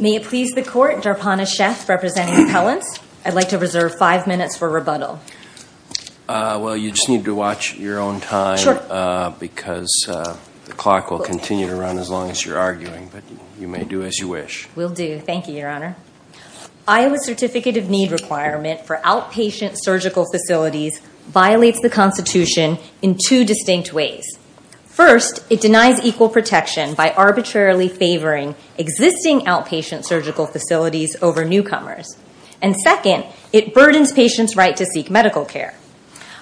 May it please the Court, Dharpana Sheth representing Appellants, I'd like to reserve five minutes for rebuttal. Well, you just need to watch your own time because the clock will continue to run as long as you're arguing, but you may do as you wish. Will do. Thank you, Your Honor. Iowa's Certificate of Need requirement for outpatient surgical facilities violates the Constitution in two distinct ways. First, it denies equal protection by arbitrarily favoring existing outpatient surgical facilities over newcomers. And second, it burdens patients' right to seek medical care.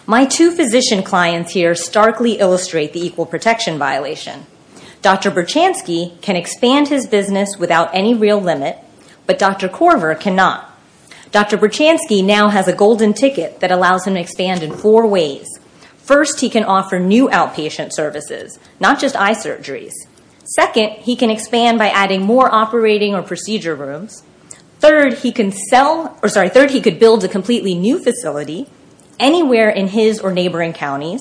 My two physician clients here starkly illustrate the equal protection violation. Dr. Birchansky can expand his business without any real limit, but Dr. Korver cannot. Dr. Birchansky now has a golden ticket that allows him to expand in four ways. First, he can offer new outpatient services, not just eye surgeries. Second, he can expand by adding more operating or procedure rooms. Third, he can sell, or sorry, third, he could build a completely new facility anywhere in his or neighboring counties.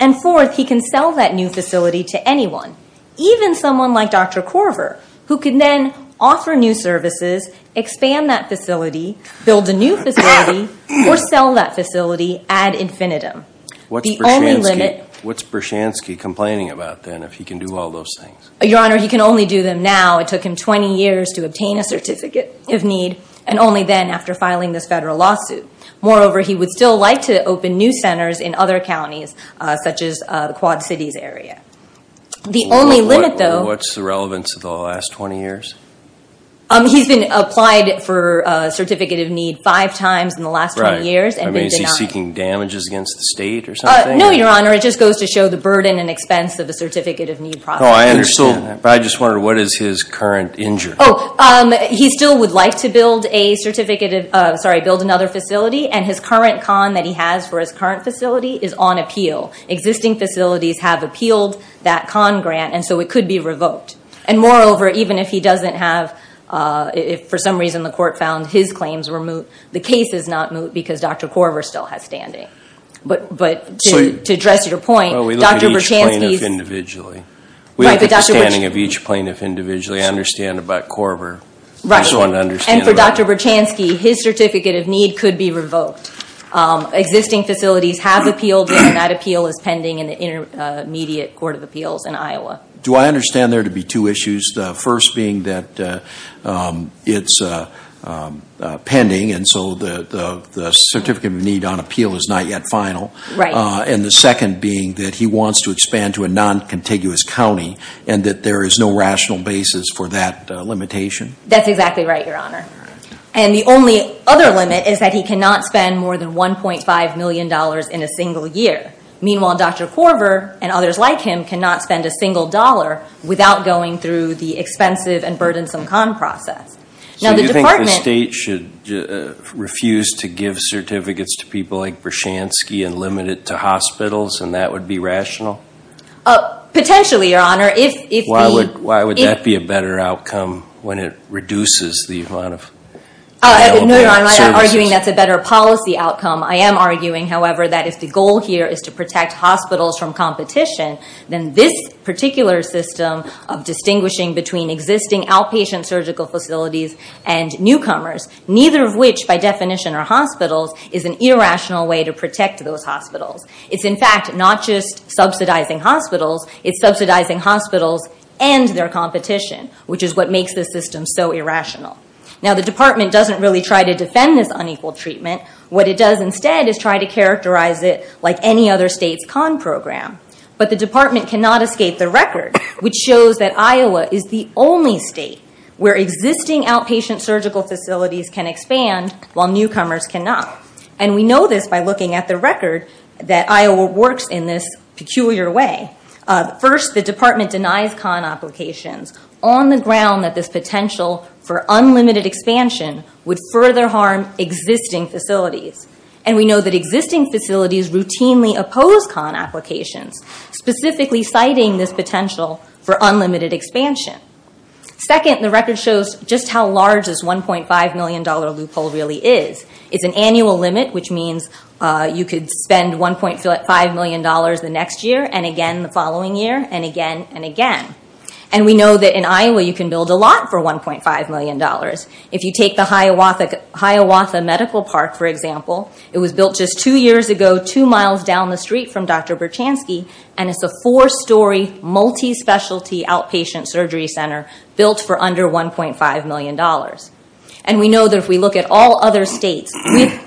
And fourth, he can sell that new facility to anyone, even someone like Dr. Korver, who can then offer new services, expand that facility, build a new facility, or sell that facility ad infinitum. What's Birchansky complaining about, then, if he can do all those things? Your Honor, he can only do them now. It took him 20 years to obtain a certificate of need, and only then, after filing this federal lawsuit. Moreover, he would still like to open new centers in other counties, such as the Quad Cities area. The only limit, though... What's the relevance of the last 20 years? He's been applied for a certificate of need five times in the last 20 years, and they are seeking damages against the state or something? No, Your Honor. It just goes to show the burden and expense of a certificate of need process. I understand that, but I just wondered, what is his current injury? He still would like to build a certificate of, sorry, build another facility, and his current con that he has for his current facility is on appeal. Existing facilities have appealed that con grant, and so it could be revoked. And moreover, even if he doesn't have, if for some reason the court found his claims were moot, the case is not moot because Dr. Korver still has standing. But to address your point, Dr. Berchanski's... Well, we look at each plaintiff individually. We look at the standing of each plaintiff individually. I understand about Korver. Right. I just want to understand about... And for Dr. Berchanski, his certificate of need could be revoked. Existing facilities have appealed it, and that appeal is pending in the Intermediate Court of Appeals in Iowa. Do I understand there to be two issues? The first being that it's pending, and so the certificate of need on appeal is not yet final. Right. And the second being that he wants to expand to a non-contiguous county, and that there is no rational basis for that limitation. That's exactly right, Your Honor. And the only other limit is that he cannot spend more than $1.5 million in a single year. Meanwhile, Dr. Korver and others like him cannot spend a single dollar without going through the expensive and burdensome con process. Now, the department... So you think the state should refuse to give certificates to people like Berchanski and limit it to hospitals, and that would be rational? Potentially, Your Honor, if the... Why would that be a better outcome when it reduces the amount of available services? No, Your Honor, I'm not arguing that's a better policy outcome. I am arguing, however, that if the goal here is to protect hospitals from competition, then this particular system of distinguishing between existing outpatient surgical facilities and newcomers, neither of which, by definition, are hospitals, is an irrational way to protect those hospitals. It's, in fact, not just subsidizing hospitals, it's subsidizing hospitals and their competition, which is what makes this system so irrational. Now, the department doesn't really try to defend this unequal treatment. What it does instead is try to characterize it like any other state's con program. But the department cannot escape the record, which shows that Iowa is the only state where existing outpatient surgical facilities can expand while newcomers cannot. And we know this by looking at the record that Iowa works in this peculiar way. First, the department denies con applications on the ground that this potential for unlimited expansion would further harm existing facilities. And we know that existing facilities routinely oppose con applications, specifically citing this potential for unlimited expansion. Second, the record shows just how large this $1.5 million loophole really is. It's an annual limit, which means you could spend $1.5 million the next year and again the following year and again and again. And we know that in Iowa you can build a lot for $1.5 million. If you take the Hiawatha Medical Park, for example, it was built just two years ago, two miles down the street from Dr. Berchansky, and it's a four-story, multi-specialty outpatient surgery center built for under $1.5 million. And we know that if we look at all other states with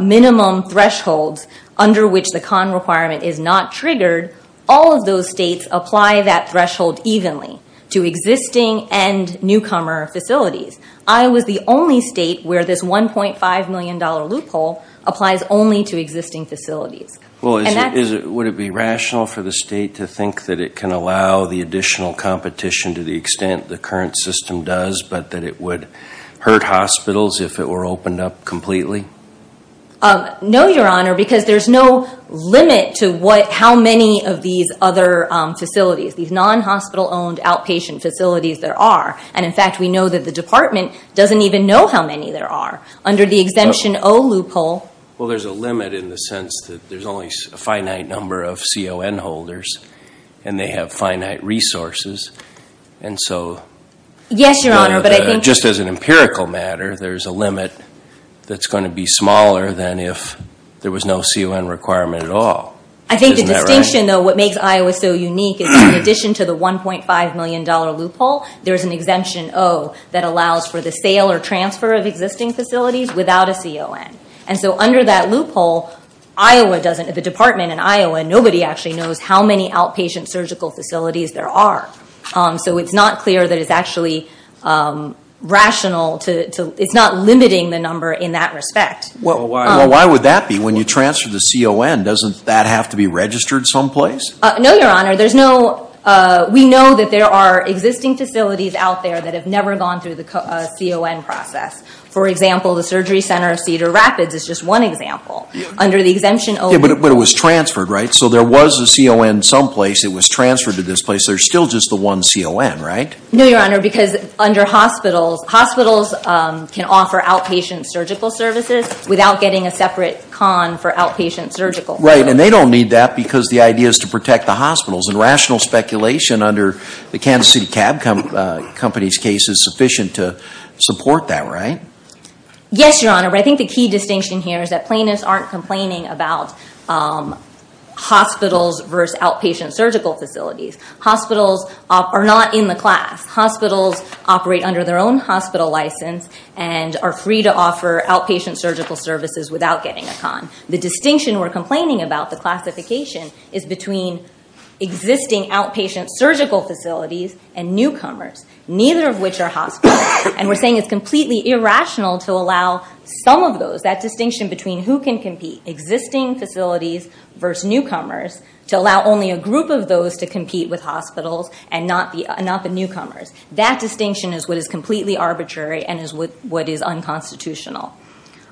minimum thresholds under which the con requirement is not triggered, all of those states apply that threshold evenly to existing and newcomer facilities. Iowa is the only state where this $1.5 million loophole applies only to existing facilities. Would it be rational for the state to think that it can allow the additional competition to the extent the current system does, but that it would hurt hospitals if it were opened up completely? No, Your Honor, because there's no limit to how many of these other facilities, these And, in fact, we know that the department doesn't even know how many there are. Under the Exemption O loophole... Well, there's a limit in the sense that there's only a finite number of CON holders, and they have finite resources. And so... Yes, Your Honor, but I think... Just as an empirical matter, there's a limit that's going to be smaller than if there was no CON requirement at all. I think the distinction, though, what makes Iowa so unique is in addition to the $1.5 million loophole, there's an Exemption O that allows for the sale or transfer of existing facilities without a CON. And so, under that loophole, Iowa doesn't... The department in Iowa, nobody actually knows how many outpatient surgical facilities there are. So, it's not clear that it's actually rational to... It's not limiting the number in that respect. Well, why would that be? When you transfer the CON, doesn't that have to be registered someplace? No, Your Honor. There's no... We know that there are existing facilities out there that have never gone through the CON process. For example, the Surgery Center of Cedar Rapids is just one example. Under the Exemption O... Yeah, but it was transferred, right? So, there was a CON someplace, it was transferred to this place, there's still just the one CON, right? No, Your Honor, because under hospitals... Hospitals can offer outpatient surgical services without getting a separate CON for outpatient surgical services. Right, and they don't need that because the idea is to protect the hospitals. And rational speculation under the Kansas City Cab Company's case is sufficient to support that, right? Yes, Your Honor, but I think the key distinction here is that plaintiffs aren't complaining about hospitals versus outpatient surgical facilities. Hospitals are not in the class. Hospitals operate under their own hospital license and are free to offer outpatient surgical services without getting a CON. The distinction we're complaining about, the classification, is between existing outpatient surgical facilities and newcomers, neither of which are hospitals. And we're saying it's completely irrational to allow some of those, that distinction between who can compete, existing facilities versus newcomers, to allow only a group of those to compete with hospitals and not the newcomers. That distinction is what is completely arbitrary and is what is unconstitutional.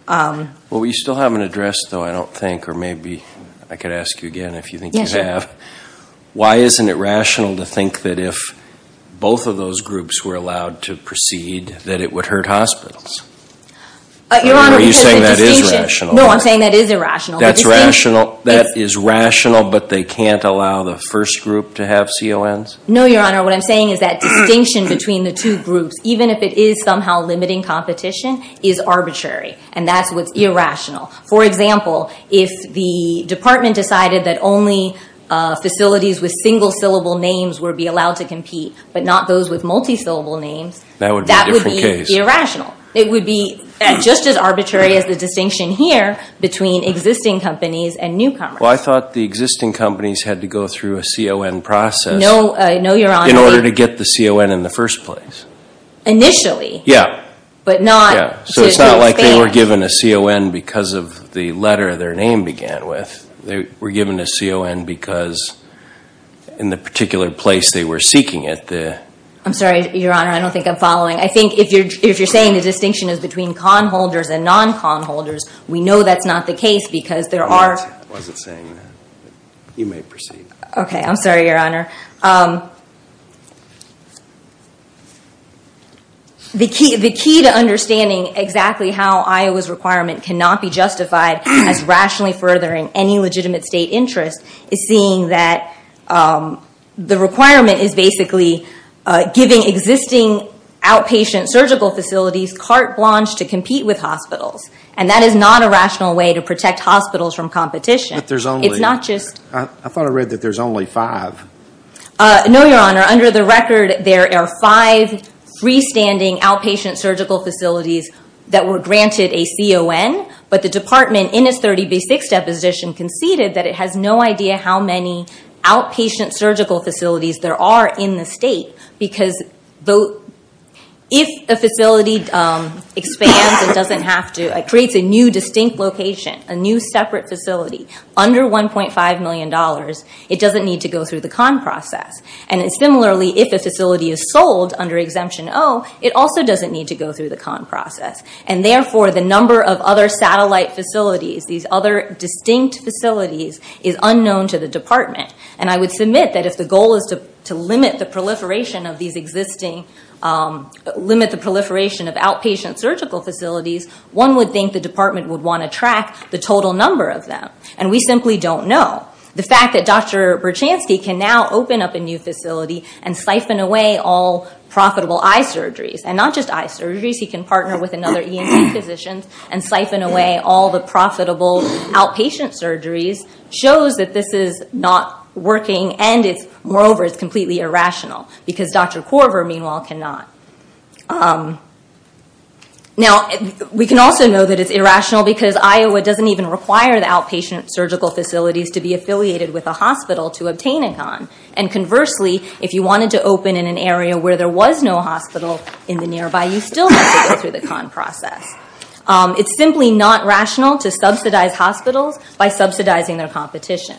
Well, we still haven't addressed, though, I don't think, or maybe I could ask you again if you think you have. Why isn't it rational to think that if both of those groups were allowed to proceed that it would hurt hospitals? Your Honor, because the distinction... Are you saying that is rational? No, I'm saying that is irrational. That's rational, that is rational, but they can't allow the first group to have CONs? No, Your Honor, what I'm saying is that distinction between the two groups, even if it is somehow limiting competition, is arbitrary, and that's what's irrational. For example, if the department decided that only facilities with single-syllable names would be allowed to compete, but not those with multi-syllable names, that would be irrational. It would be just as arbitrary as the distinction here between existing companies and newcomers. Well, I thought the existing companies had to go through a CON process in order to get the CON in the first place. Initially. Yeah. But not to expand... So it's not like they were given a CON because of the letter their name began with. They were given a CON because in the particular place they were seeking it, the... I'm sorry, Your Honor, I don't think I'm following. I think if you're saying the distinction is between CON holders and non-CON holders, we know that's not the case because there are... I wasn't saying that. You may proceed. Okay, I'm sorry, Your Honor. The key to understanding exactly how Iowa's requirement cannot be justified as rationally furthering any legitimate state interest is seeing that the requirement is basically giving existing outpatient surgical facilities carte blanche to compete with hospitals. And that is not a rational way to protect hospitals from competition. But there's only... It's not just... I thought I read that there's only five. No, Your Honor. Under the record, there are five freestanding outpatient surgical facilities that were granted a CON, but the department in its 30B6 deposition conceded that it has no idea how many outpatient surgical facilities there are in the state. Because if a facility expands and doesn't have to, it creates a new distinct location, a new separate facility, under $1.5 million, it doesn't need to go through the CON process. And similarly, if a facility is sold under Exemption O, it also doesn't need to go through the CON process. And therefore, the number of other satellite facilities, these other distinct facilities, is unknown to the department. And I would submit that if the goal is to limit the proliferation of these existing... Limit the proliferation of outpatient surgical facilities, one would think the department would want to track the total number of them. And we simply don't know. The fact that Dr. Berchanski can now open up a new facility and siphon away all profitable eye surgeries, and not just eye surgeries, he can partner with another E&T positions and siphon away all the profitable outpatient surgeries, shows that this is not working and, moreover, it's completely irrational. Because Dr. Korver, meanwhile, cannot. Now, we can also know that it's irrational because Iowa doesn't even require the outpatient surgical facilities to be affiliated with a hospital to obtain a CON. And conversely, if you wanted to open in an area where there was no hospital in the nearby, you still have to go through the CON process. It's simply not rational to subsidize hospitals by subsidizing their competition.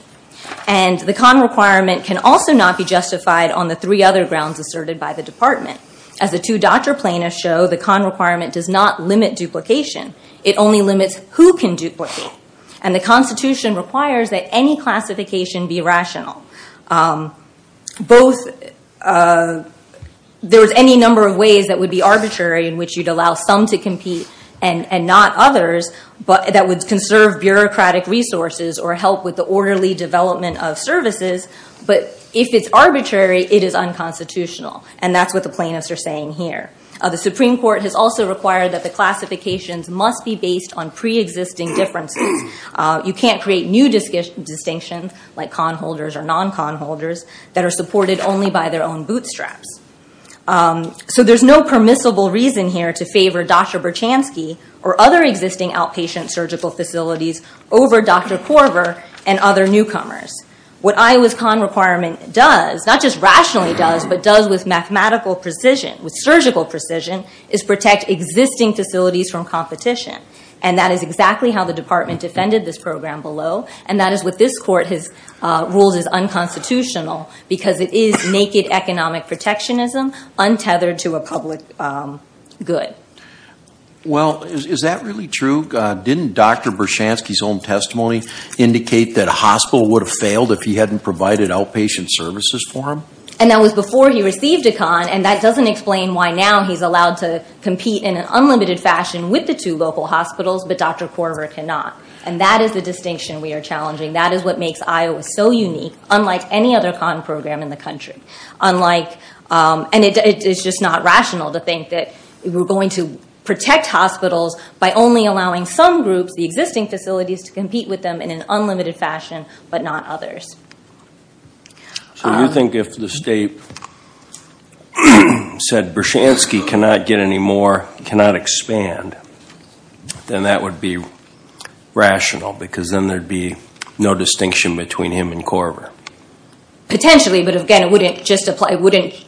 And the CON requirement can also not be justified on the three other grounds asserted by the CON. As the two doctor plaintiffs show, the CON requirement does not limit duplication. It only limits who can duplicate. And the Constitution requires that any classification be rational. There's any number of ways that would be arbitrary in which you'd allow some to compete and not others, but that would conserve bureaucratic resources or help with the orderly development of services. But if it's arbitrary, it is unconstitutional. And that's what the plaintiffs are saying here. The Supreme Court has also required that the classifications must be based on pre-existing differences. You can't create new distinctions, like CON holders or non-CON holders, that are supported only by their own bootstraps. So there's no permissible reason here to favor Dr. Berchanski or other existing outpatient surgical facilities over Dr. Korver and other newcomers. What Iowa's CON requirement does, not just rationally does, but does with mathematical precision, with surgical precision, is protect existing facilities from competition. And that is exactly how the Department defended this program below. And that is what this Court has ruled is unconstitutional, because it is naked economic protectionism untethered to a public good. Well, is that really true? Didn't Dr. Berchanski's own testimony indicate that a hospital would have failed if he hadn't provided outpatient services for him? And that was before he received a CON, and that doesn't explain why now he's allowed to compete in an unlimited fashion with the two local hospitals, but Dr. Korver cannot. And that is the distinction we are challenging. That is what makes Iowa so unique, unlike any other CON program in the country. And it's just not rational to think that we're going to protect hospitals by only allowing some groups, the existing facilities, to compete with them in an unlimited fashion, but not others. So you think if the state said Berchanski cannot get any more, cannot expand, then that would be rational, because then there'd be no distinction between him and Korver? Potentially, but again, it wouldn't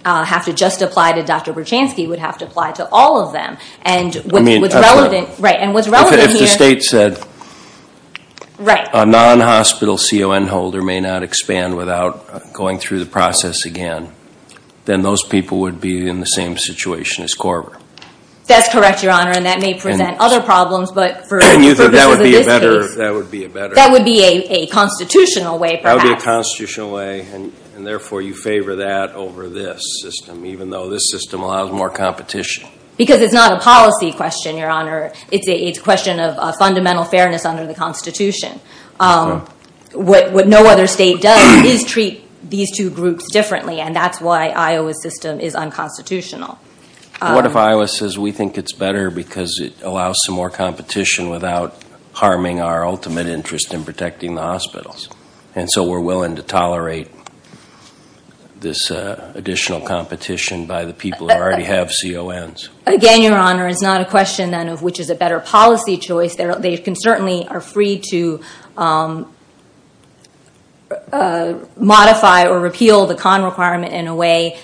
have to just apply to Dr. Berchanski, it would have to apply to all of them. I mean, if the state said a non-hospital CON holder may not expand without going through the process again, then those people would be in the same situation as Korver. That's correct, Your Honor, and that may present other problems, but for purposes of this case, that would be a constitutional way, perhaps. That would be a constitutional way, and therefore you favor that over this system, even though this system allows more competition? Because it's not a policy question, Your Honor, it's a question of fundamental fairness under the Constitution. What no other state does is treat these two groups differently, and that's why Iowa's system is unconstitutional. What if Iowa says we think it's better because it allows some more competition without harming our ultimate interest in protecting the hospitals, and so we're willing to tolerate this additional competition by the people who already have CONs? Again, Your Honor, it's not a question then of which is a better policy choice. They can certainly are free to modify or repeal the CON requirement in a way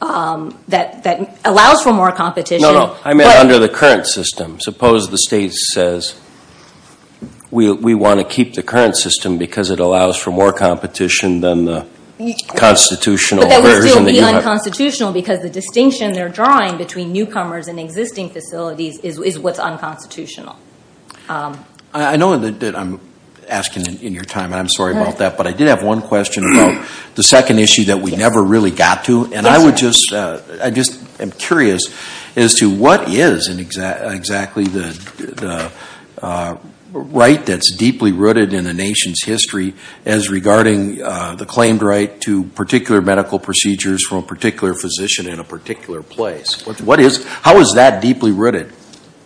that allows for more competition. No, no. I meant under the current system. Suppose the state says we want to keep the current system because it allows for more competition than the constitutional version that you have. It's unconstitutional because the distinction they're drawing between newcomers and existing facilities is what's unconstitutional. I know that I'm asking in your time, and I'm sorry about that, but I did have one question about the second issue that we never really got to, and I would just, I just am curious as to what is exactly the right that's deeply rooted in the nation's history as regarding the claimed right to particular medical procedures from a particular physician in a particular place? What is, how is that deeply rooted?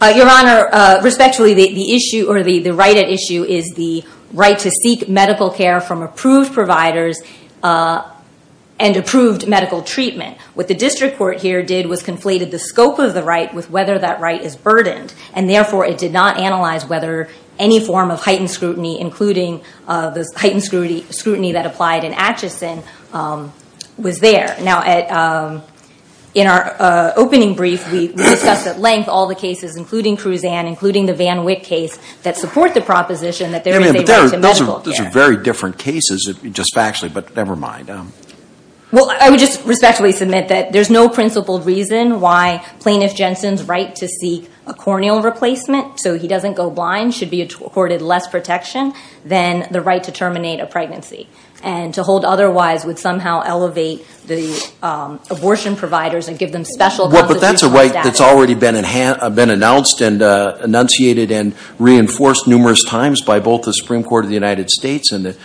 Your Honor, respectfully, the issue, or the right at issue is the right to seek medical care from approved providers and approved medical treatment. What the district court here did was conflated the scope of the right with whether that right is burdened, and therefore it did not analyze whether any form of heightened scrutiny, including the heightened scrutiny that applied in Atchison, was there. Now, in our opening brief, we discussed at length all the cases, including Cruzan, including the Van Witt case, that support the proposition that there is a right to medical care. Those are very different cases, just factually, but never mind. Well, I would just respectfully submit that there's no principled reason why Plaintiff Jensen's right to seek a corneal replacement so he doesn't go blind should be accorded less protection than the right to terminate a pregnancy. And to hold otherwise would somehow elevate the abortion providers and give them special constitutional status. But that's a right that's already been announced and enunciated and reinforced numerous times by both the Supreme Court of the United States and the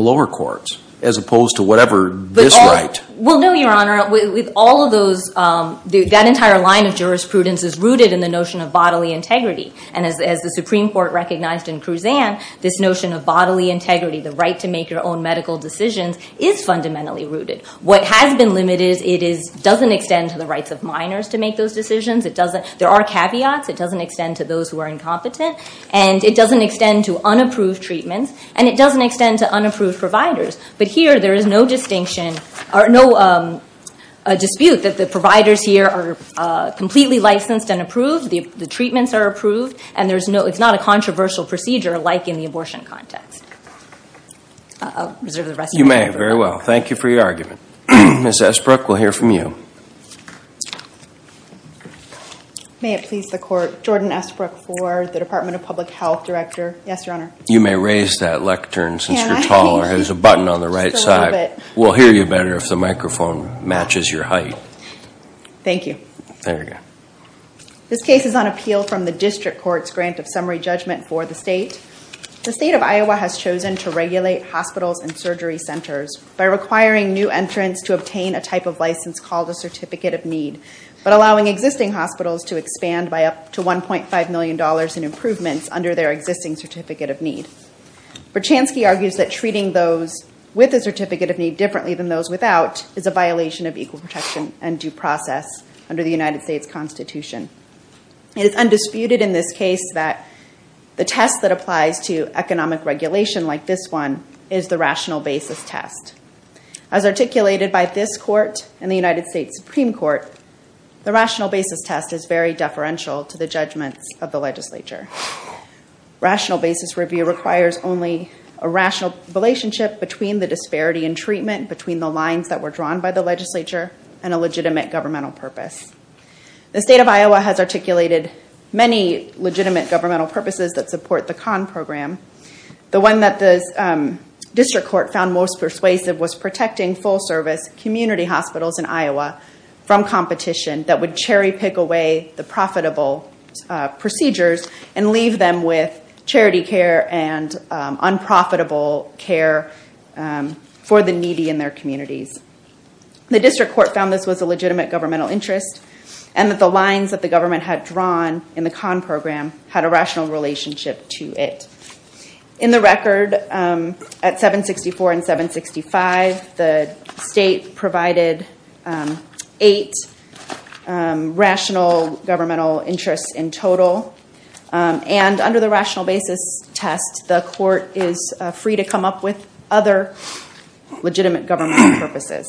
lower courts, as opposed to whatever this right. Well, no, Your Honor, with all of those, that entire line of jurisprudence is rooted in the notion of bodily integrity. And as the Supreme Court recognized in Cruzan, this notion of bodily integrity, the right to make your own medical decisions, is fundamentally rooted. What has been limited, it doesn't extend to the rights of minors to make those decisions. There are caveats. It doesn't extend to those who are incompetent. And it doesn't extend to unapproved treatments. And it doesn't extend to unapproved providers. But here, there is no distinction or no dispute that the providers here are completely licensed and approved, the treatments are approved, and it's not a controversial procedure like in the abortion context. I'll reserve the rest of my time. You may. Very well. Thank you for your argument. Ms. Esbrook, we'll hear from you. May it please the Court, Jordan Esbrook for the Department of Public Health, Director. Yes, Your Honor. You may raise that lectern since you're tall or there's a button on the right side. We'll hear you better if the microphone matches your height. Thank you. There we go. This case is on appeal from the district court's grant of summary judgment for the state. The state of Iowa has chosen to regulate hospitals and surgery centers by requiring new entrants to obtain a type of license called a Certificate of Need, but allowing existing hospitals to expand by up to $1.5 million in improvements under their existing Certificate of Need. Verchansky argues that treating those with a Certificate of Need differently than those without is a violation of equal protection and due process under the United States Constitution. It is undisputed in this case that the test that applies to economic regulation like this one is the rational basis test. As articulated by this Court and the United States Supreme Court, the rational basis test is very deferential to the judgments of the legislature. Rational basis review requires only a rational relationship between the disparity in treatment, between the lines that were drawn by the legislature, and a legitimate governmental purpose. The state of Iowa has articulated many legitimate governmental purposes that support the CON program. The one that the district court found most persuasive was protecting full service community hospitals in Iowa from competition that would cherry pick away the profitable procedures and leave them with charity care and unprofitable care for the needy in their communities. The district court found this was a legitimate governmental interest, and that the lines that the government had drawn in the CON program had a rational relationship to it. In the record, at 764 and 765, the state provided eight rational governmental interests in total, and under the rational basis test, the court is free to come up with other legitimate governmental purposes.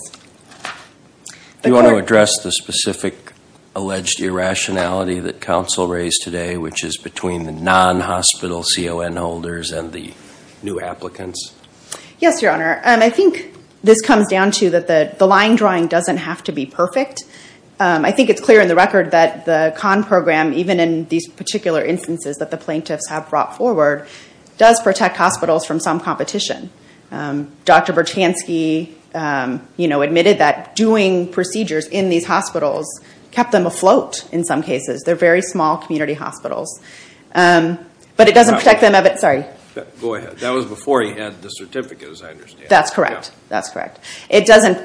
Do you want to address the specific alleged irrationality that counsel raised today, which is between the non-hospital CON holders and the new applicants? Yes, your honor. I think this comes down to that the line drawing doesn't have to be perfect. I think it's clear in the record that the CON program, even in these particular instances that the plaintiffs have brought forward, does protect hospitals from some competition. Dr. Bertansky admitted that doing procedures in these hospitals kept them afloat in some cases. They're very small community hospitals. But it doesn't protect them of it. Sorry. Go ahead. That was before he had the certificate, as I understand. That's correct. That's correct. It doesn't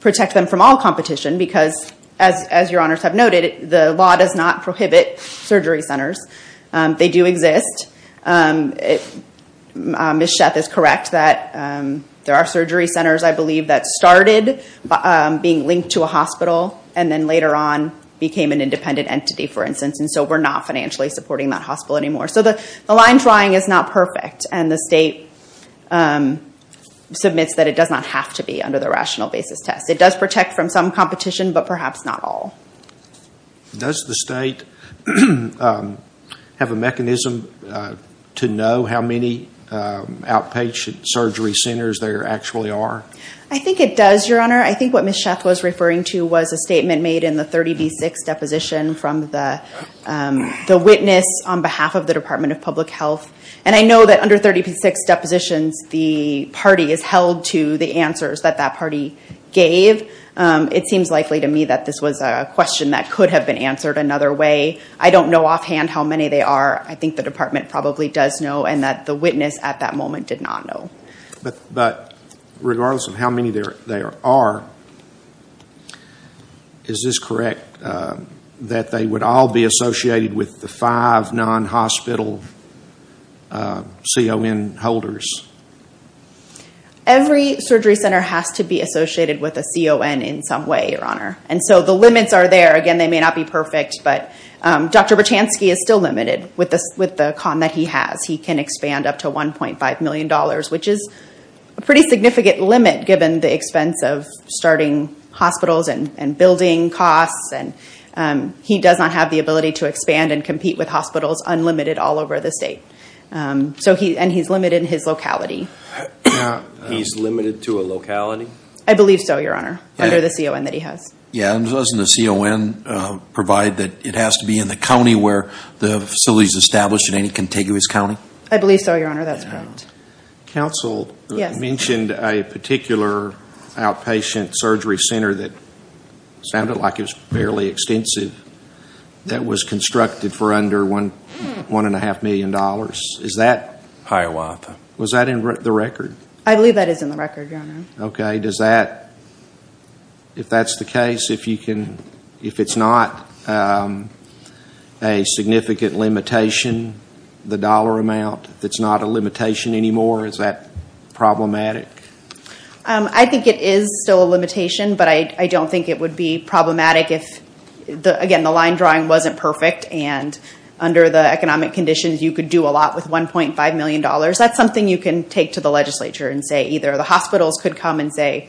protect them from all competition because, as your honors have noted, the law does not prohibit surgery centers. They do exist. Ms. Schaaf is correct that there are surgery centers, I believe, that started being linked to a hospital and then later on became an independent entity, for instance. And so we're not financially supporting that hospital anymore. So the line drawing is not perfect. And the state submits that it does not have to be under the rational basis test. It does protect from some competition, but perhaps not all. Does the state have a mechanism to know how many outpatient surgery centers there actually are? I think it does, your honor. I think what Ms. Schaaf was referring to was a statement made in the 30B6 deposition from the witness on behalf of the Department of Public Health. And I know that under 30B6 depositions, the party is held to the answers that that party gave. It seems likely to me that this was a question that could have been answered another way. I don't know offhand how many there are. I think the department probably does know and that the witness at that moment did not know. But regardless of how many there are, is this correct that they would all be associated with the five non-hospital CON holders? Every surgery center has to be associated with a CON in some way, your honor. And so the limits are there. Again, they may not be perfect, but Dr. Berchansky is still limited with the con that he has. He can expand up to $1.5 million, which is a pretty significant limit given the expense of starting hospitals and building costs. He does not have the ability to expand and compete with hospitals unlimited all over the state. And he's limited in his locality. He's limited to a locality? I believe so, your honor, under the CON that he has. Yeah, and doesn't the CON provide that it has to be in the county where the facility is established in any contiguous county? I believe so, your honor, that's correct. Counsel mentioned a particular outpatient surgery center that sounded like it was fairly extensive that was constructed for under $1.5 million. Is that? Hiawatha. Was that in the record? I believe that is in the record, your honor. Okay. And if that's the case, if it's not a significant limitation, the dollar amount, if it's not a limitation anymore, is that problematic? I think it is still a limitation, but I don't think it would be problematic if, again, the line drawing wasn't perfect and under the economic conditions you could do a lot with $1.5 million. That's something you can take to the legislature and say either the hospitals could come and say,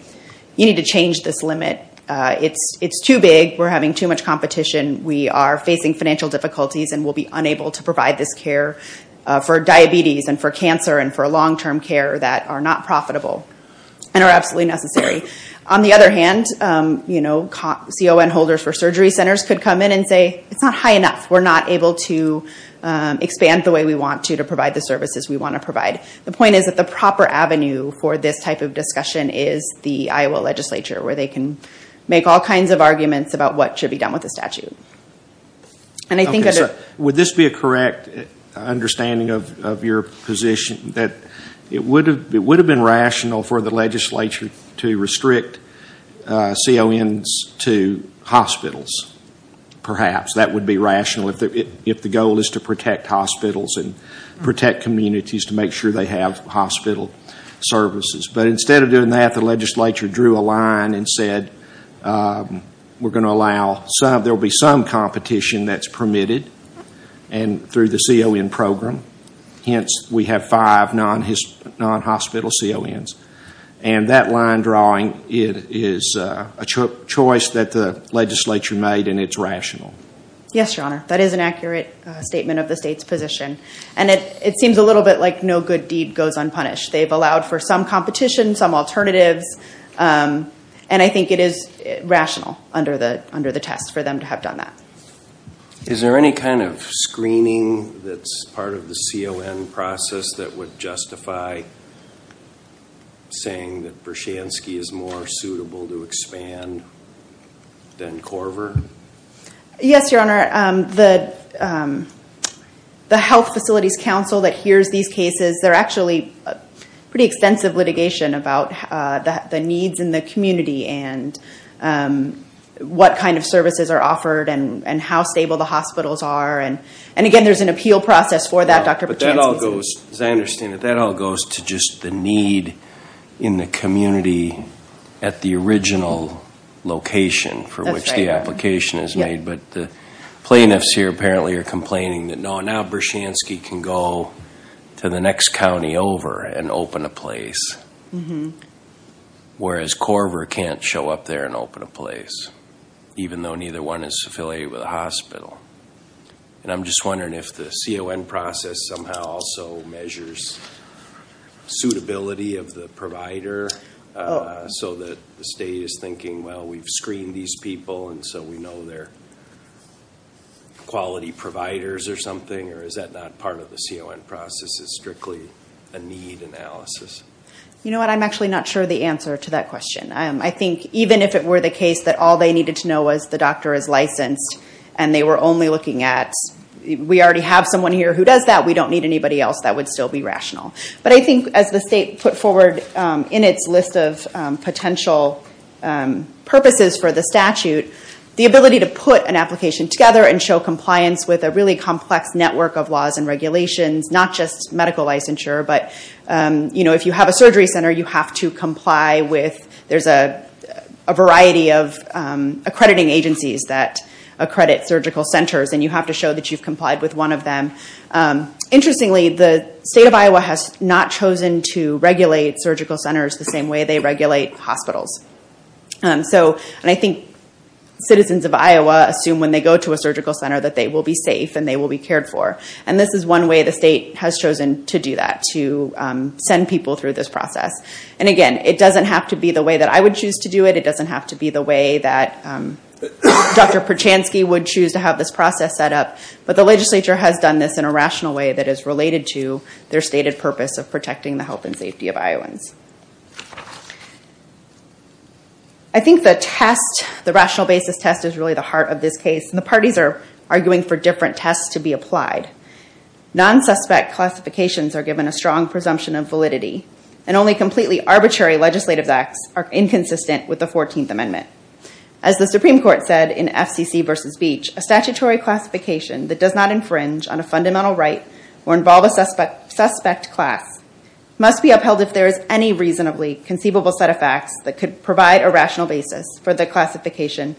you need to change this limit. It's too big. We're having too much competition. We are facing financial difficulties and we'll be unable to provide this care for diabetes and for cancer and for long-term care that are not profitable and are absolutely necessary. On the other hand, CON holders for surgery centers could come in and say, it's not high enough. We're not able to expand the way we want to to provide the services we want to provide. The point is that the proper avenue for this type of discussion is the Iowa legislature where they can make all kinds of arguments about what should be done with the statute. Would this be a correct understanding of your position that it would have been rational for the legislature to restrict CONs to hospitals, perhaps? That would be rational if the goal is to protect hospitals and protect communities to make sure they have hospital services. Instead of doing that, the legislature drew a line and said, there will be some competition that's permitted through the CON program. Hence, we have five non-hospital CONs. That line drawing is a choice that the legislature made and it's rational. Yes, your honor. That is an accurate statement of the state's position. It seems a little bit like no good deed goes unpunished. They've allowed for some competition, some alternatives. I think it is rational under the test for them to have done that. Is there any kind of screening that's part of the CON process that would justify saying that Bershansky is more suitable to expand than Korver? Yes, your honor. The Health Facilities Council that hears these cases, they're actually pretty extensive litigation about the needs in the community and what kind of services are offered and how stable the hospitals are. Again, there's an appeal process for that, Dr. Bershansky. That all goes, as I understand it, that all goes to just the need in the community at the original location for which the application is made. The plaintiffs here apparently are complaining that now Bershansky can go to the next county over and open a place, whereas Korver can't show up there and open a place, even though neither one is affiliated with a hospital. I'm just wondering if the CON process somehow also measures suitability of the provider so that the state is thinking, well, we've screened these people and so we know they're quality providers or something, or is that not part of the CON process? It's strictly a need analysis? You know what? I'm actually not sure the answer to that question. I think even if it were the case that all they needed to know was the doctor is licensed and they were only looking at, we already have someone here who does that, we don't need anybody else, that would still be rational. But I think as the state put forward in its list of potential purposes for the statute, the ability to put an application together and show compliance with a really complex network of laws and regulations, not just medical licensure, but if you have a surgery center you have to comply with, there's a variety of accrediting agencies that accredit surgical centers and you have to show that you've complied with one of them. Interestingly, the state of Iowa has not chosen to regulate surgical centers the same way they regulate hospitals. I think citizens of Iowa assume when they go to a surgical center that they will be safe and they will be cared for. This is one way the state has chosen to do that, to send people through this process. Again, it doesn't have to be the way that I would choose to do it. It doesn't have to be the way that Dr. Perchanski would choose to have this process set up, but the legislature has done this in a rational way that is related to their stated purpose of protecting the health and safety of Iowans. I think the test, the rational basis test, is really the heart of this case and the parties are arguing for different tests to be applied. Non-suspect classifications are given a strong presumption of validity and only completely arbitrary legislative acts are inconsistent with the 14th Amendment. As the Supreme Court said in FCC v. Beach, a statutory classification that does not infringe on a fundamental right or involve a suspect class must be upheld if there is any reasonably conceivable set of facts that could provide a rational basis for the classification.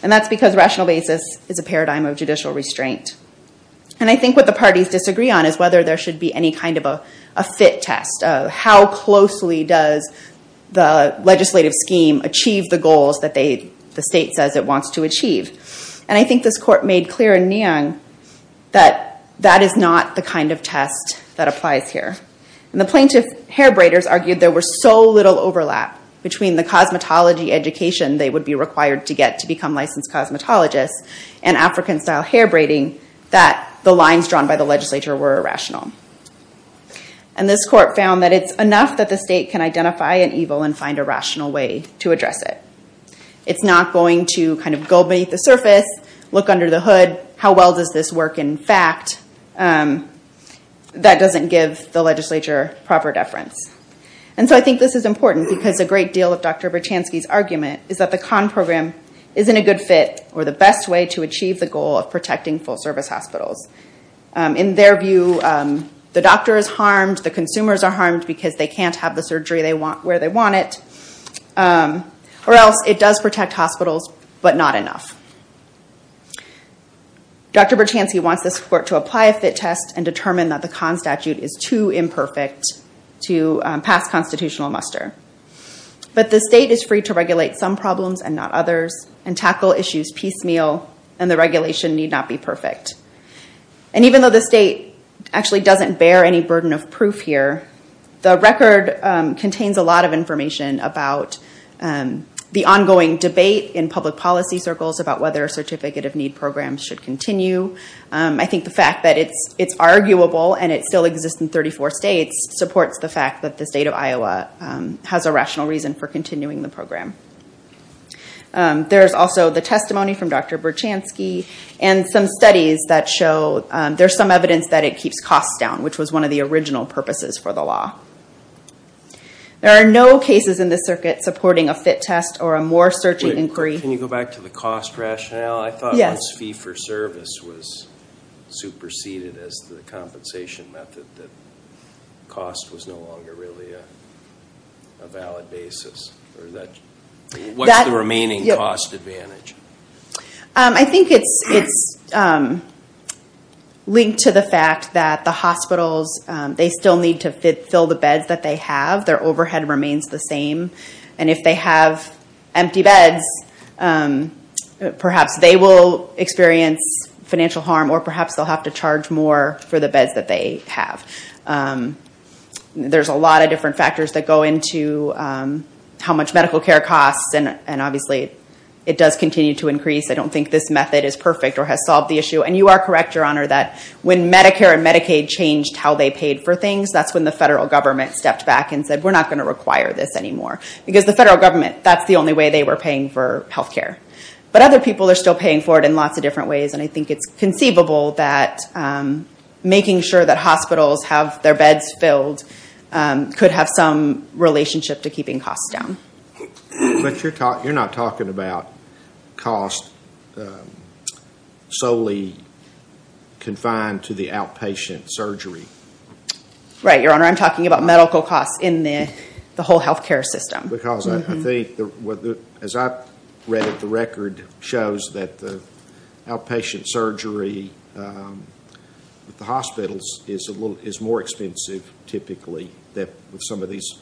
That's because rational basis is a paradigm of judicial restraint. I think what the parties disagree on is whether there should be any kind of a fit test of how closely does the legislative scheme achieve the goals that the state says it wants to achieve. I think this court made clear in Neon that that is not the kind of test that applies here. The plaintiff hair braiders argued there was so little overlap between the cosmetology education they would be required to get to become licensed cosmetologists and African-style hair braiding that the lines drawn by the legislature were irrational. And this court found that it's enough that the state can identify an evil and find a rational way to address it. It's not going to kind of go beneath the surface, look under the hood, how well does this work in fact, that doesn't give the legislature proper deference. And so I think this is important because a great deal of Dr. Bertchansky's argument is that the CON program isn't a good fit or the best way to achieve the goal of protecting full service hospitals. In their view, the doctor is harmed, the consumers are harmed because they can't have the surgery they want where they want it, or else it does protect hospitals, but not enough. Dr. Bertchansky wants this court to apply a fit test and determine that the CON statute is too imperfect to pass constitutional muster. But the state is free to regulate some problems and not others and tackle issues piecemeal and the regulation need not be perfect. And even though the state actually doesn't bear any burden of proof here, the record contains a lot of information about the ongoing debate in public policy circles about whether a certificate of need program should continue. I think the fact that it's arguable and it still exists in 34 states supports the fact that the state of Iowa has a rational reason for continuing the program. There's also the testimony from Dr. Bertchansky and some studies that show there's some evidence that it keeps costs down, which was one of the original purposes for the law. There are no cases in this circuit supporting a fit test or a more searching inquiry. Can you go back to the cost rationale? I thought once fee for service was superseded as the compensation method, that cost was no longer really a valid basis. What's the remaining cost advantage? I think it's linked to the fact that the hospitals, they still need to fill the beds that they have. Their overhead remains the same. And if they have empty beds, perhaps they will experience financial harm or perhaps they'll have to charge more for the beds that they have. There's a lot of different factors that go into how much medical care costs, and obviously it does continue to increase. I don't think this method is perfect or has solved the issue. And you are correct, Your Honor, that when Medicare and Medicaid changed how they paid for things, that's when the federal government stepped back and said, we're not going to require this anymore. Because the federal government, that's the only way they were paying for health care. But other people are still paying for it in lots of different ways, and I think it's conceivable that making sure that hospitals have their beds filled could have some relationship to keeping costs down. But you're not talking about costs solely confined to the outpatient surgery. Right, Your Honor. I'm talking about medical costs in the whole health care system. Because I think, as I've read it, the record shows that the outpatient surgery at the hospitals is more expensive, typically, than with some of these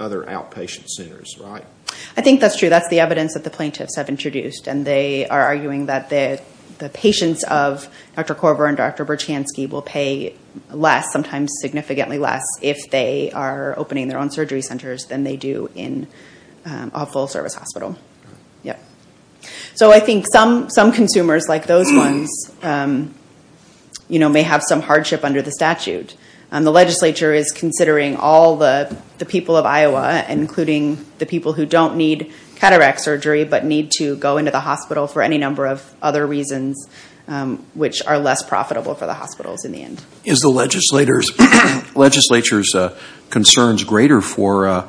other outpatient centers, right? I think that's true. That's the evidence that the plaintiffs have introduced. And they are arguing that the patients of Dr. Korver and Dr. Berchanski will pay less, sometimes significantly less, if they are opening their own surgery centers than they do in a full-service hospital. So I think some consumers, like those ones, may have some hardship under the statute. The legislature is considering all the people of Iowa, including the people who don't need cataract surgery but need to go into the hospital for any number of other reasons, which are less profitable for the hospitals in the end. Is the legislature's concerns greater for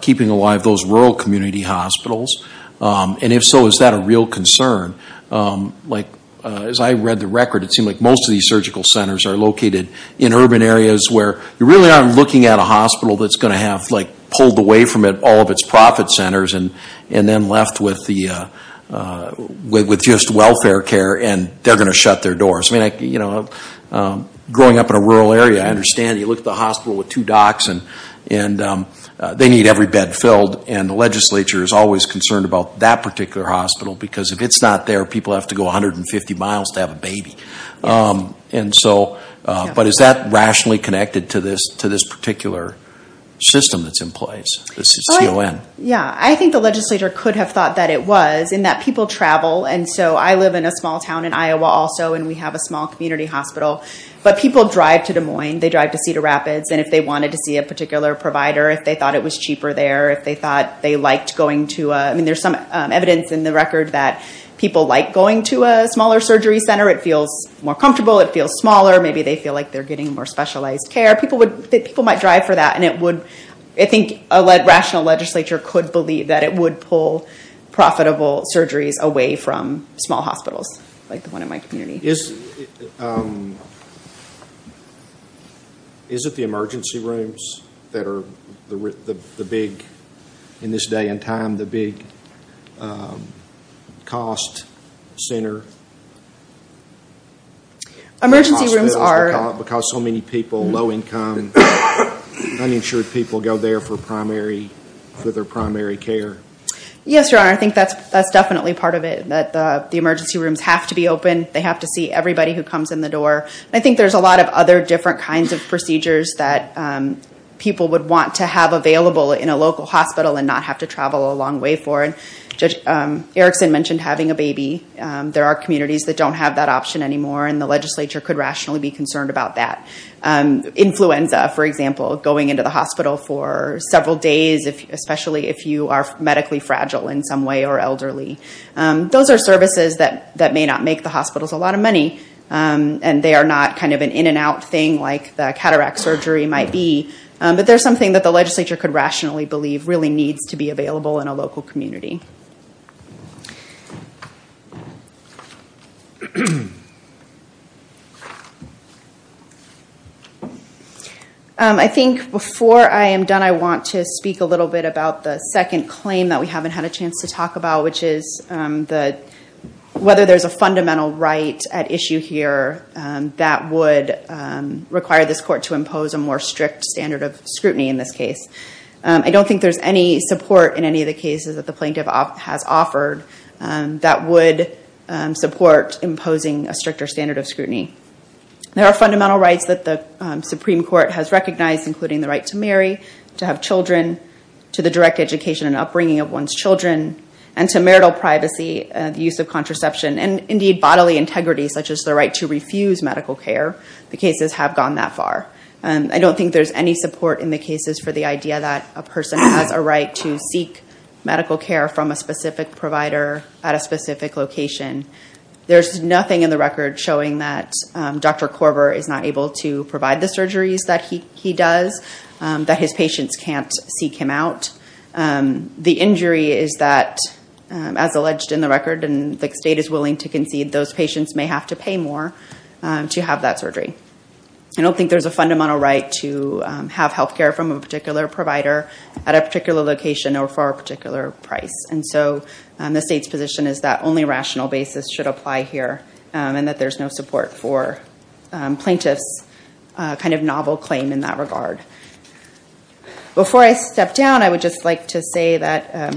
keeping alive those rural community hospitals? And if so, is that a real concern? As I read the record, it seemed like most of these surgical centers are located in urban areas where you really aren't looking at a hospital that's going to have pulled away from it all of its profit centers and then left with just welfare care, and they're going to shut their doors. I mean, growing up in a rural area, I understand you look at the hospital with two docks, and they need every bed filled. And the legislature is always concerned about that particular hospital, because if it's not there, people have to go 150 miles to have a baby. But is that rationally connected to this particular system that's in place, the CON? Yeah. I think the legislature could have thought that it was, in that people travel. And so I live in a small town in Iowa also, and we have a small community hospital. But people drive to Des Moines, they drive to Cedar Rapids, and if they wanted to see a particular provider, if they thought it was cheaper there, if they thought they liked going to a... I mean, there's some evidence in the record that people like going to a smaller surgery center. It feels more comfortable. It feels smaller. Maybe they feel like they're getting more specialized care. People might drive for that. And I think a rational legislature could believe that it would pull profitable surgeries away from small hospitals, like the one in my community. Is it the emergency rooms that are the big, in this day and time, the big cost center? Emergency rooms are... Because so many people, low income, uninsured people go there for their primary care? Yes, Your Honor. I think that's definitely part of it, that the emergency rooms have to be open. They have to see everybody who comes in the door. I think there's a lot of other different kinds of procedures that people would want to have available in a local hospital and not have to travel a long way for. Erickson mentioned having a baby. There are communities that don't have that option anymore, and the legislature could rationally be concerned about that. Influenza, for example, going into the hospital for several days, especially if you are medically fragile in some way or elderly. Those are services that may not make the hospitals a lot of money, and they are not kind of an in and out thing like the cataract surgery might be, but they're something that the legislature could rationally believe really needs to be available in a local community. I think before I am done, I want to speak a little bit about the second claim that we haven't had a chance to talk about, which is whether there's a fundamental right at issue here that would require this court to impose a more strict standard of scrutiny in this case. I don't think there's any support in any of the cases that the plaintiff has offered that would support imposing a stricter standard of scrutiny. There are fundamental rights that the Supreme Court has recognized, including the right to marry, to have children, to the direct education and upbringing of one's children, and to marital privacy, the use of contraception, and indeed bodily integrity, such as the right to refuse medical care. The cases have gone that far. I don't think there's any support in the cases for the idea that a person has a right to seek medical care from a specific provider at a specific location. There's nothing in the record showing that Dr. Korver is not able to provide the surgeries that he does, that his patients can't seek him out. The injury is that, as alleged in the record and the state is willing to concede, those patients may have to pay more to have that surgery. I don't think there's a fundamental right to have health care from a particular provider at a particular location or for a particular price. The state's position is that only a rational basis should apply here and that there's no support for plaintiffs' kind of novel claim in that regard. Before I step down, I would just like to say that,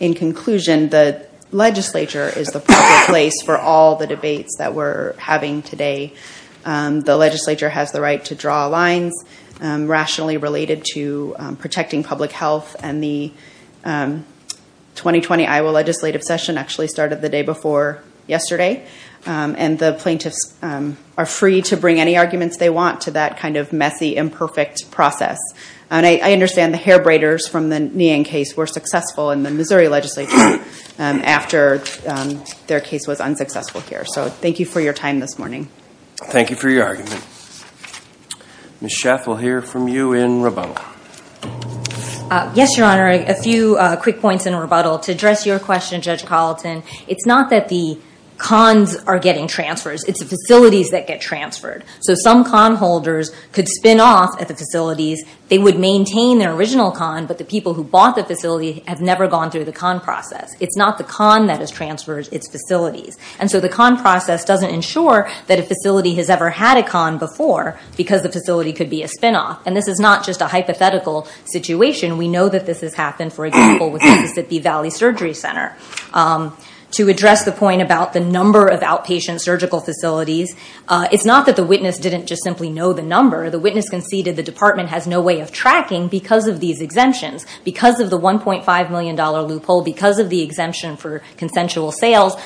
in conclusion, the legislature is the perfect place for all the debates that we're having today. The legislature has the right to draw lines rationally related to protecting public health, and the 2020 Iowa legislative session actually started the day before yesterday. The plaintiffs are free to bring any arguments they want to that kind of messy, imperfect process. I understand the hair braiders from the Nguyen case were successful in the Missouri legislature after their case was unsuccessful here. Thank you for your time this morning. Thank you for your argument. Ms. Schaff will hear from you in rebuttal. Yes, Your Honor, a few quick points in rebuttal to address your question, Judge Colleton. It's not that the cons are getting transfers. It's the facilities that get transferred. Some con holders could spin off at the facilities. They would maintain their original con, but the people who bought the facility have never gone through the con process. It's not the con that has transferred, it's facilities. The con process doesn't ensure that a facility has ever had a con before because the facility could be a spin off. This is not just a hypothetical situation. We know that this has happened, for example, with the Mississippi Valley Surgery Center. To address the point about the number of outpatient surgical facilities, it's not that the witness didn't just simply know the number. The witness conceded the department has no way of tracking because of these exemptions. Because of the $1.5 million loophole, because of the exemption for consensual sales,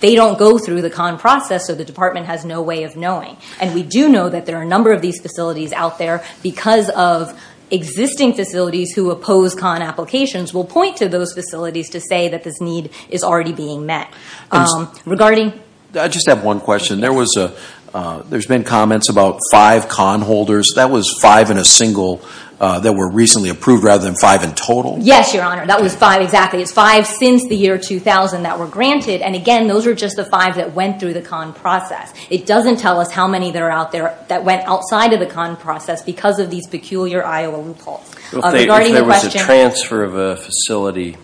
they don't go through the con process, so the department has no way of knowing. We do know that there are a number of these facilities out there because of existing facilities who oppose con applications will point to those facilities to say that this need is already being met. I just have one question. There's been comments about five con holders. That was five in a single that were recently approved rather than five in total? Yes, Your Honor. That was five, exactly. It's five since the year 2000 that were granted. Again, those are just the five that went through the con process. It doesn't tell us how many that went outside of the con process because of these peculiar Iowa loopholes. If there was a transfer of a facility,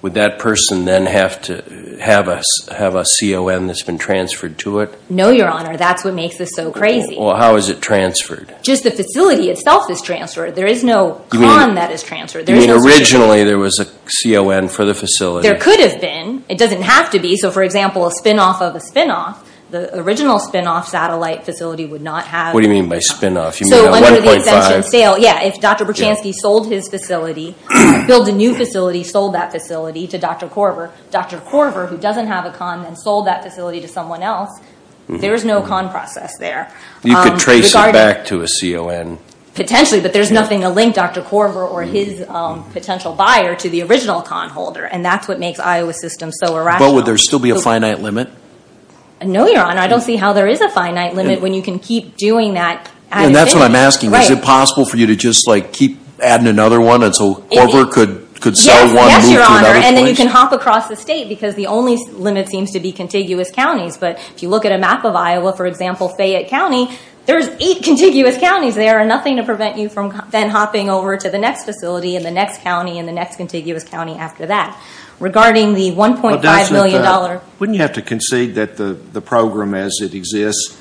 would that person then have to have a CON that's been transferred to it? No, Your Honor. That's what makes this so crazy. Well, how is it transferred? Just the facility itself is transferred. There is no con that is transferred. You mean originally there was a CON for the facility? There could have been. It doesn't have to be. For example, a spin-off of a spin-off, the original spin-off satellite facility would not have... What do you mean by spin-off? You mean a 1.5? A 1.5 scale. Yes. If Dr. Berchanski sold his facility, built a new facility, sold that facility to Dr. Korver, Dr. Korver, who doesn't have a CON, then sold that facility to someone else, there is no con process there. You could trace it back to a CON. Potentially, but there's nothing to link Dr. Korver or his potential buyer to the original con holder. That's what makes Iowa's system so irrational. Would there still be a finite limit? No, Your Honor. I don't see how there is a finite limit when you can keep doing that at a fixed rate. That's what I'm asking. Right. Is it possible for you to just keep adding another one until Korver could sell one, move to another facility? Yes, Your Honor. Then you can hop across the state because the only limit seems to be contiguous counties. If you look at a map of Iowa, for example, Fayette County, there's eight contiguous counties there and nothing to prevent you from then hopping over to the next facility, and the next county, and the next contiguous county after that. Regarding the $1.5 million... Wouldn't you have to concede that the program as it exists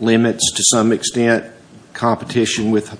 limits, to some extent, competition with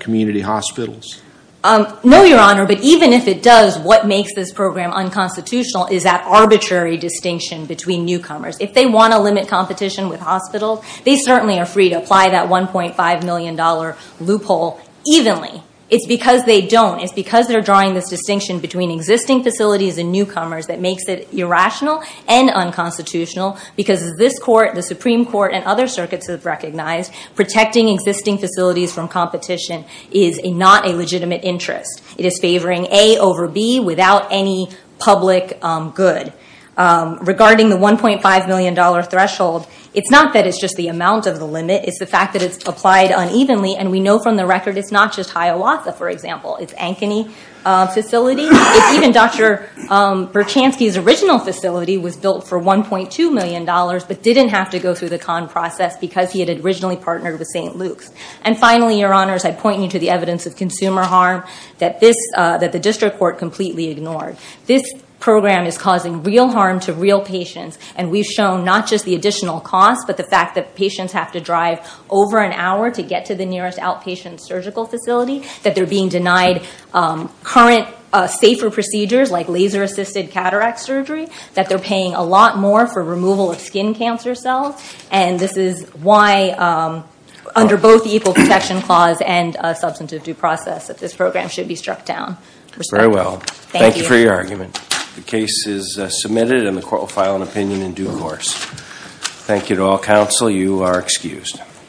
community hospitals? No, Your Honor, but even if it does, what makes this program unconstitutional is that arbitrary distinction between newcomers. If they want to limit competition with hospitals, they certainly are free to apply that $1.5 million loophole evenly. It's because they don't. It's because they're drawing this distinction between existing facilities and newcomers that makes it irrational and unconstitutional because this court, the Supreme Court, and other circuits have recognized protecting existing facilities from competition is not a legitimate interest. It is favoring A over B without any public good. Regarding the $1.5 million threshold, it's not that it's just the amount of the limit. It's the fact that it's applied unevenly and we know from the record it's not just Hiawatha, for example. It's Ankeny facility. Even Dr. Berchanski's original facility was built for $1.2 million but didn't have to go through the con process because he had originally partnered with St. Luke's. And finally, Your Honors, I point you to the evidence of consumer harm that the district court completely ignored. This program is causing real harm to real patients and we've shown not just the additional cost but the fact that patients have to drive over an hour to get to the nearest outpatient surgical facility, that they're being denied current safer procedures like laser-assisted cataract surgery, that they're paying a lot more for removal of skin cancer cells, and this is why under both the Equal Protection Clause and Substantive Due Process that this program should be struck down. We're sorry. Thank you. Thank you for your argument. The case is submitted and the court will file an opinion in due course. Thank you to all counsel. You are excused.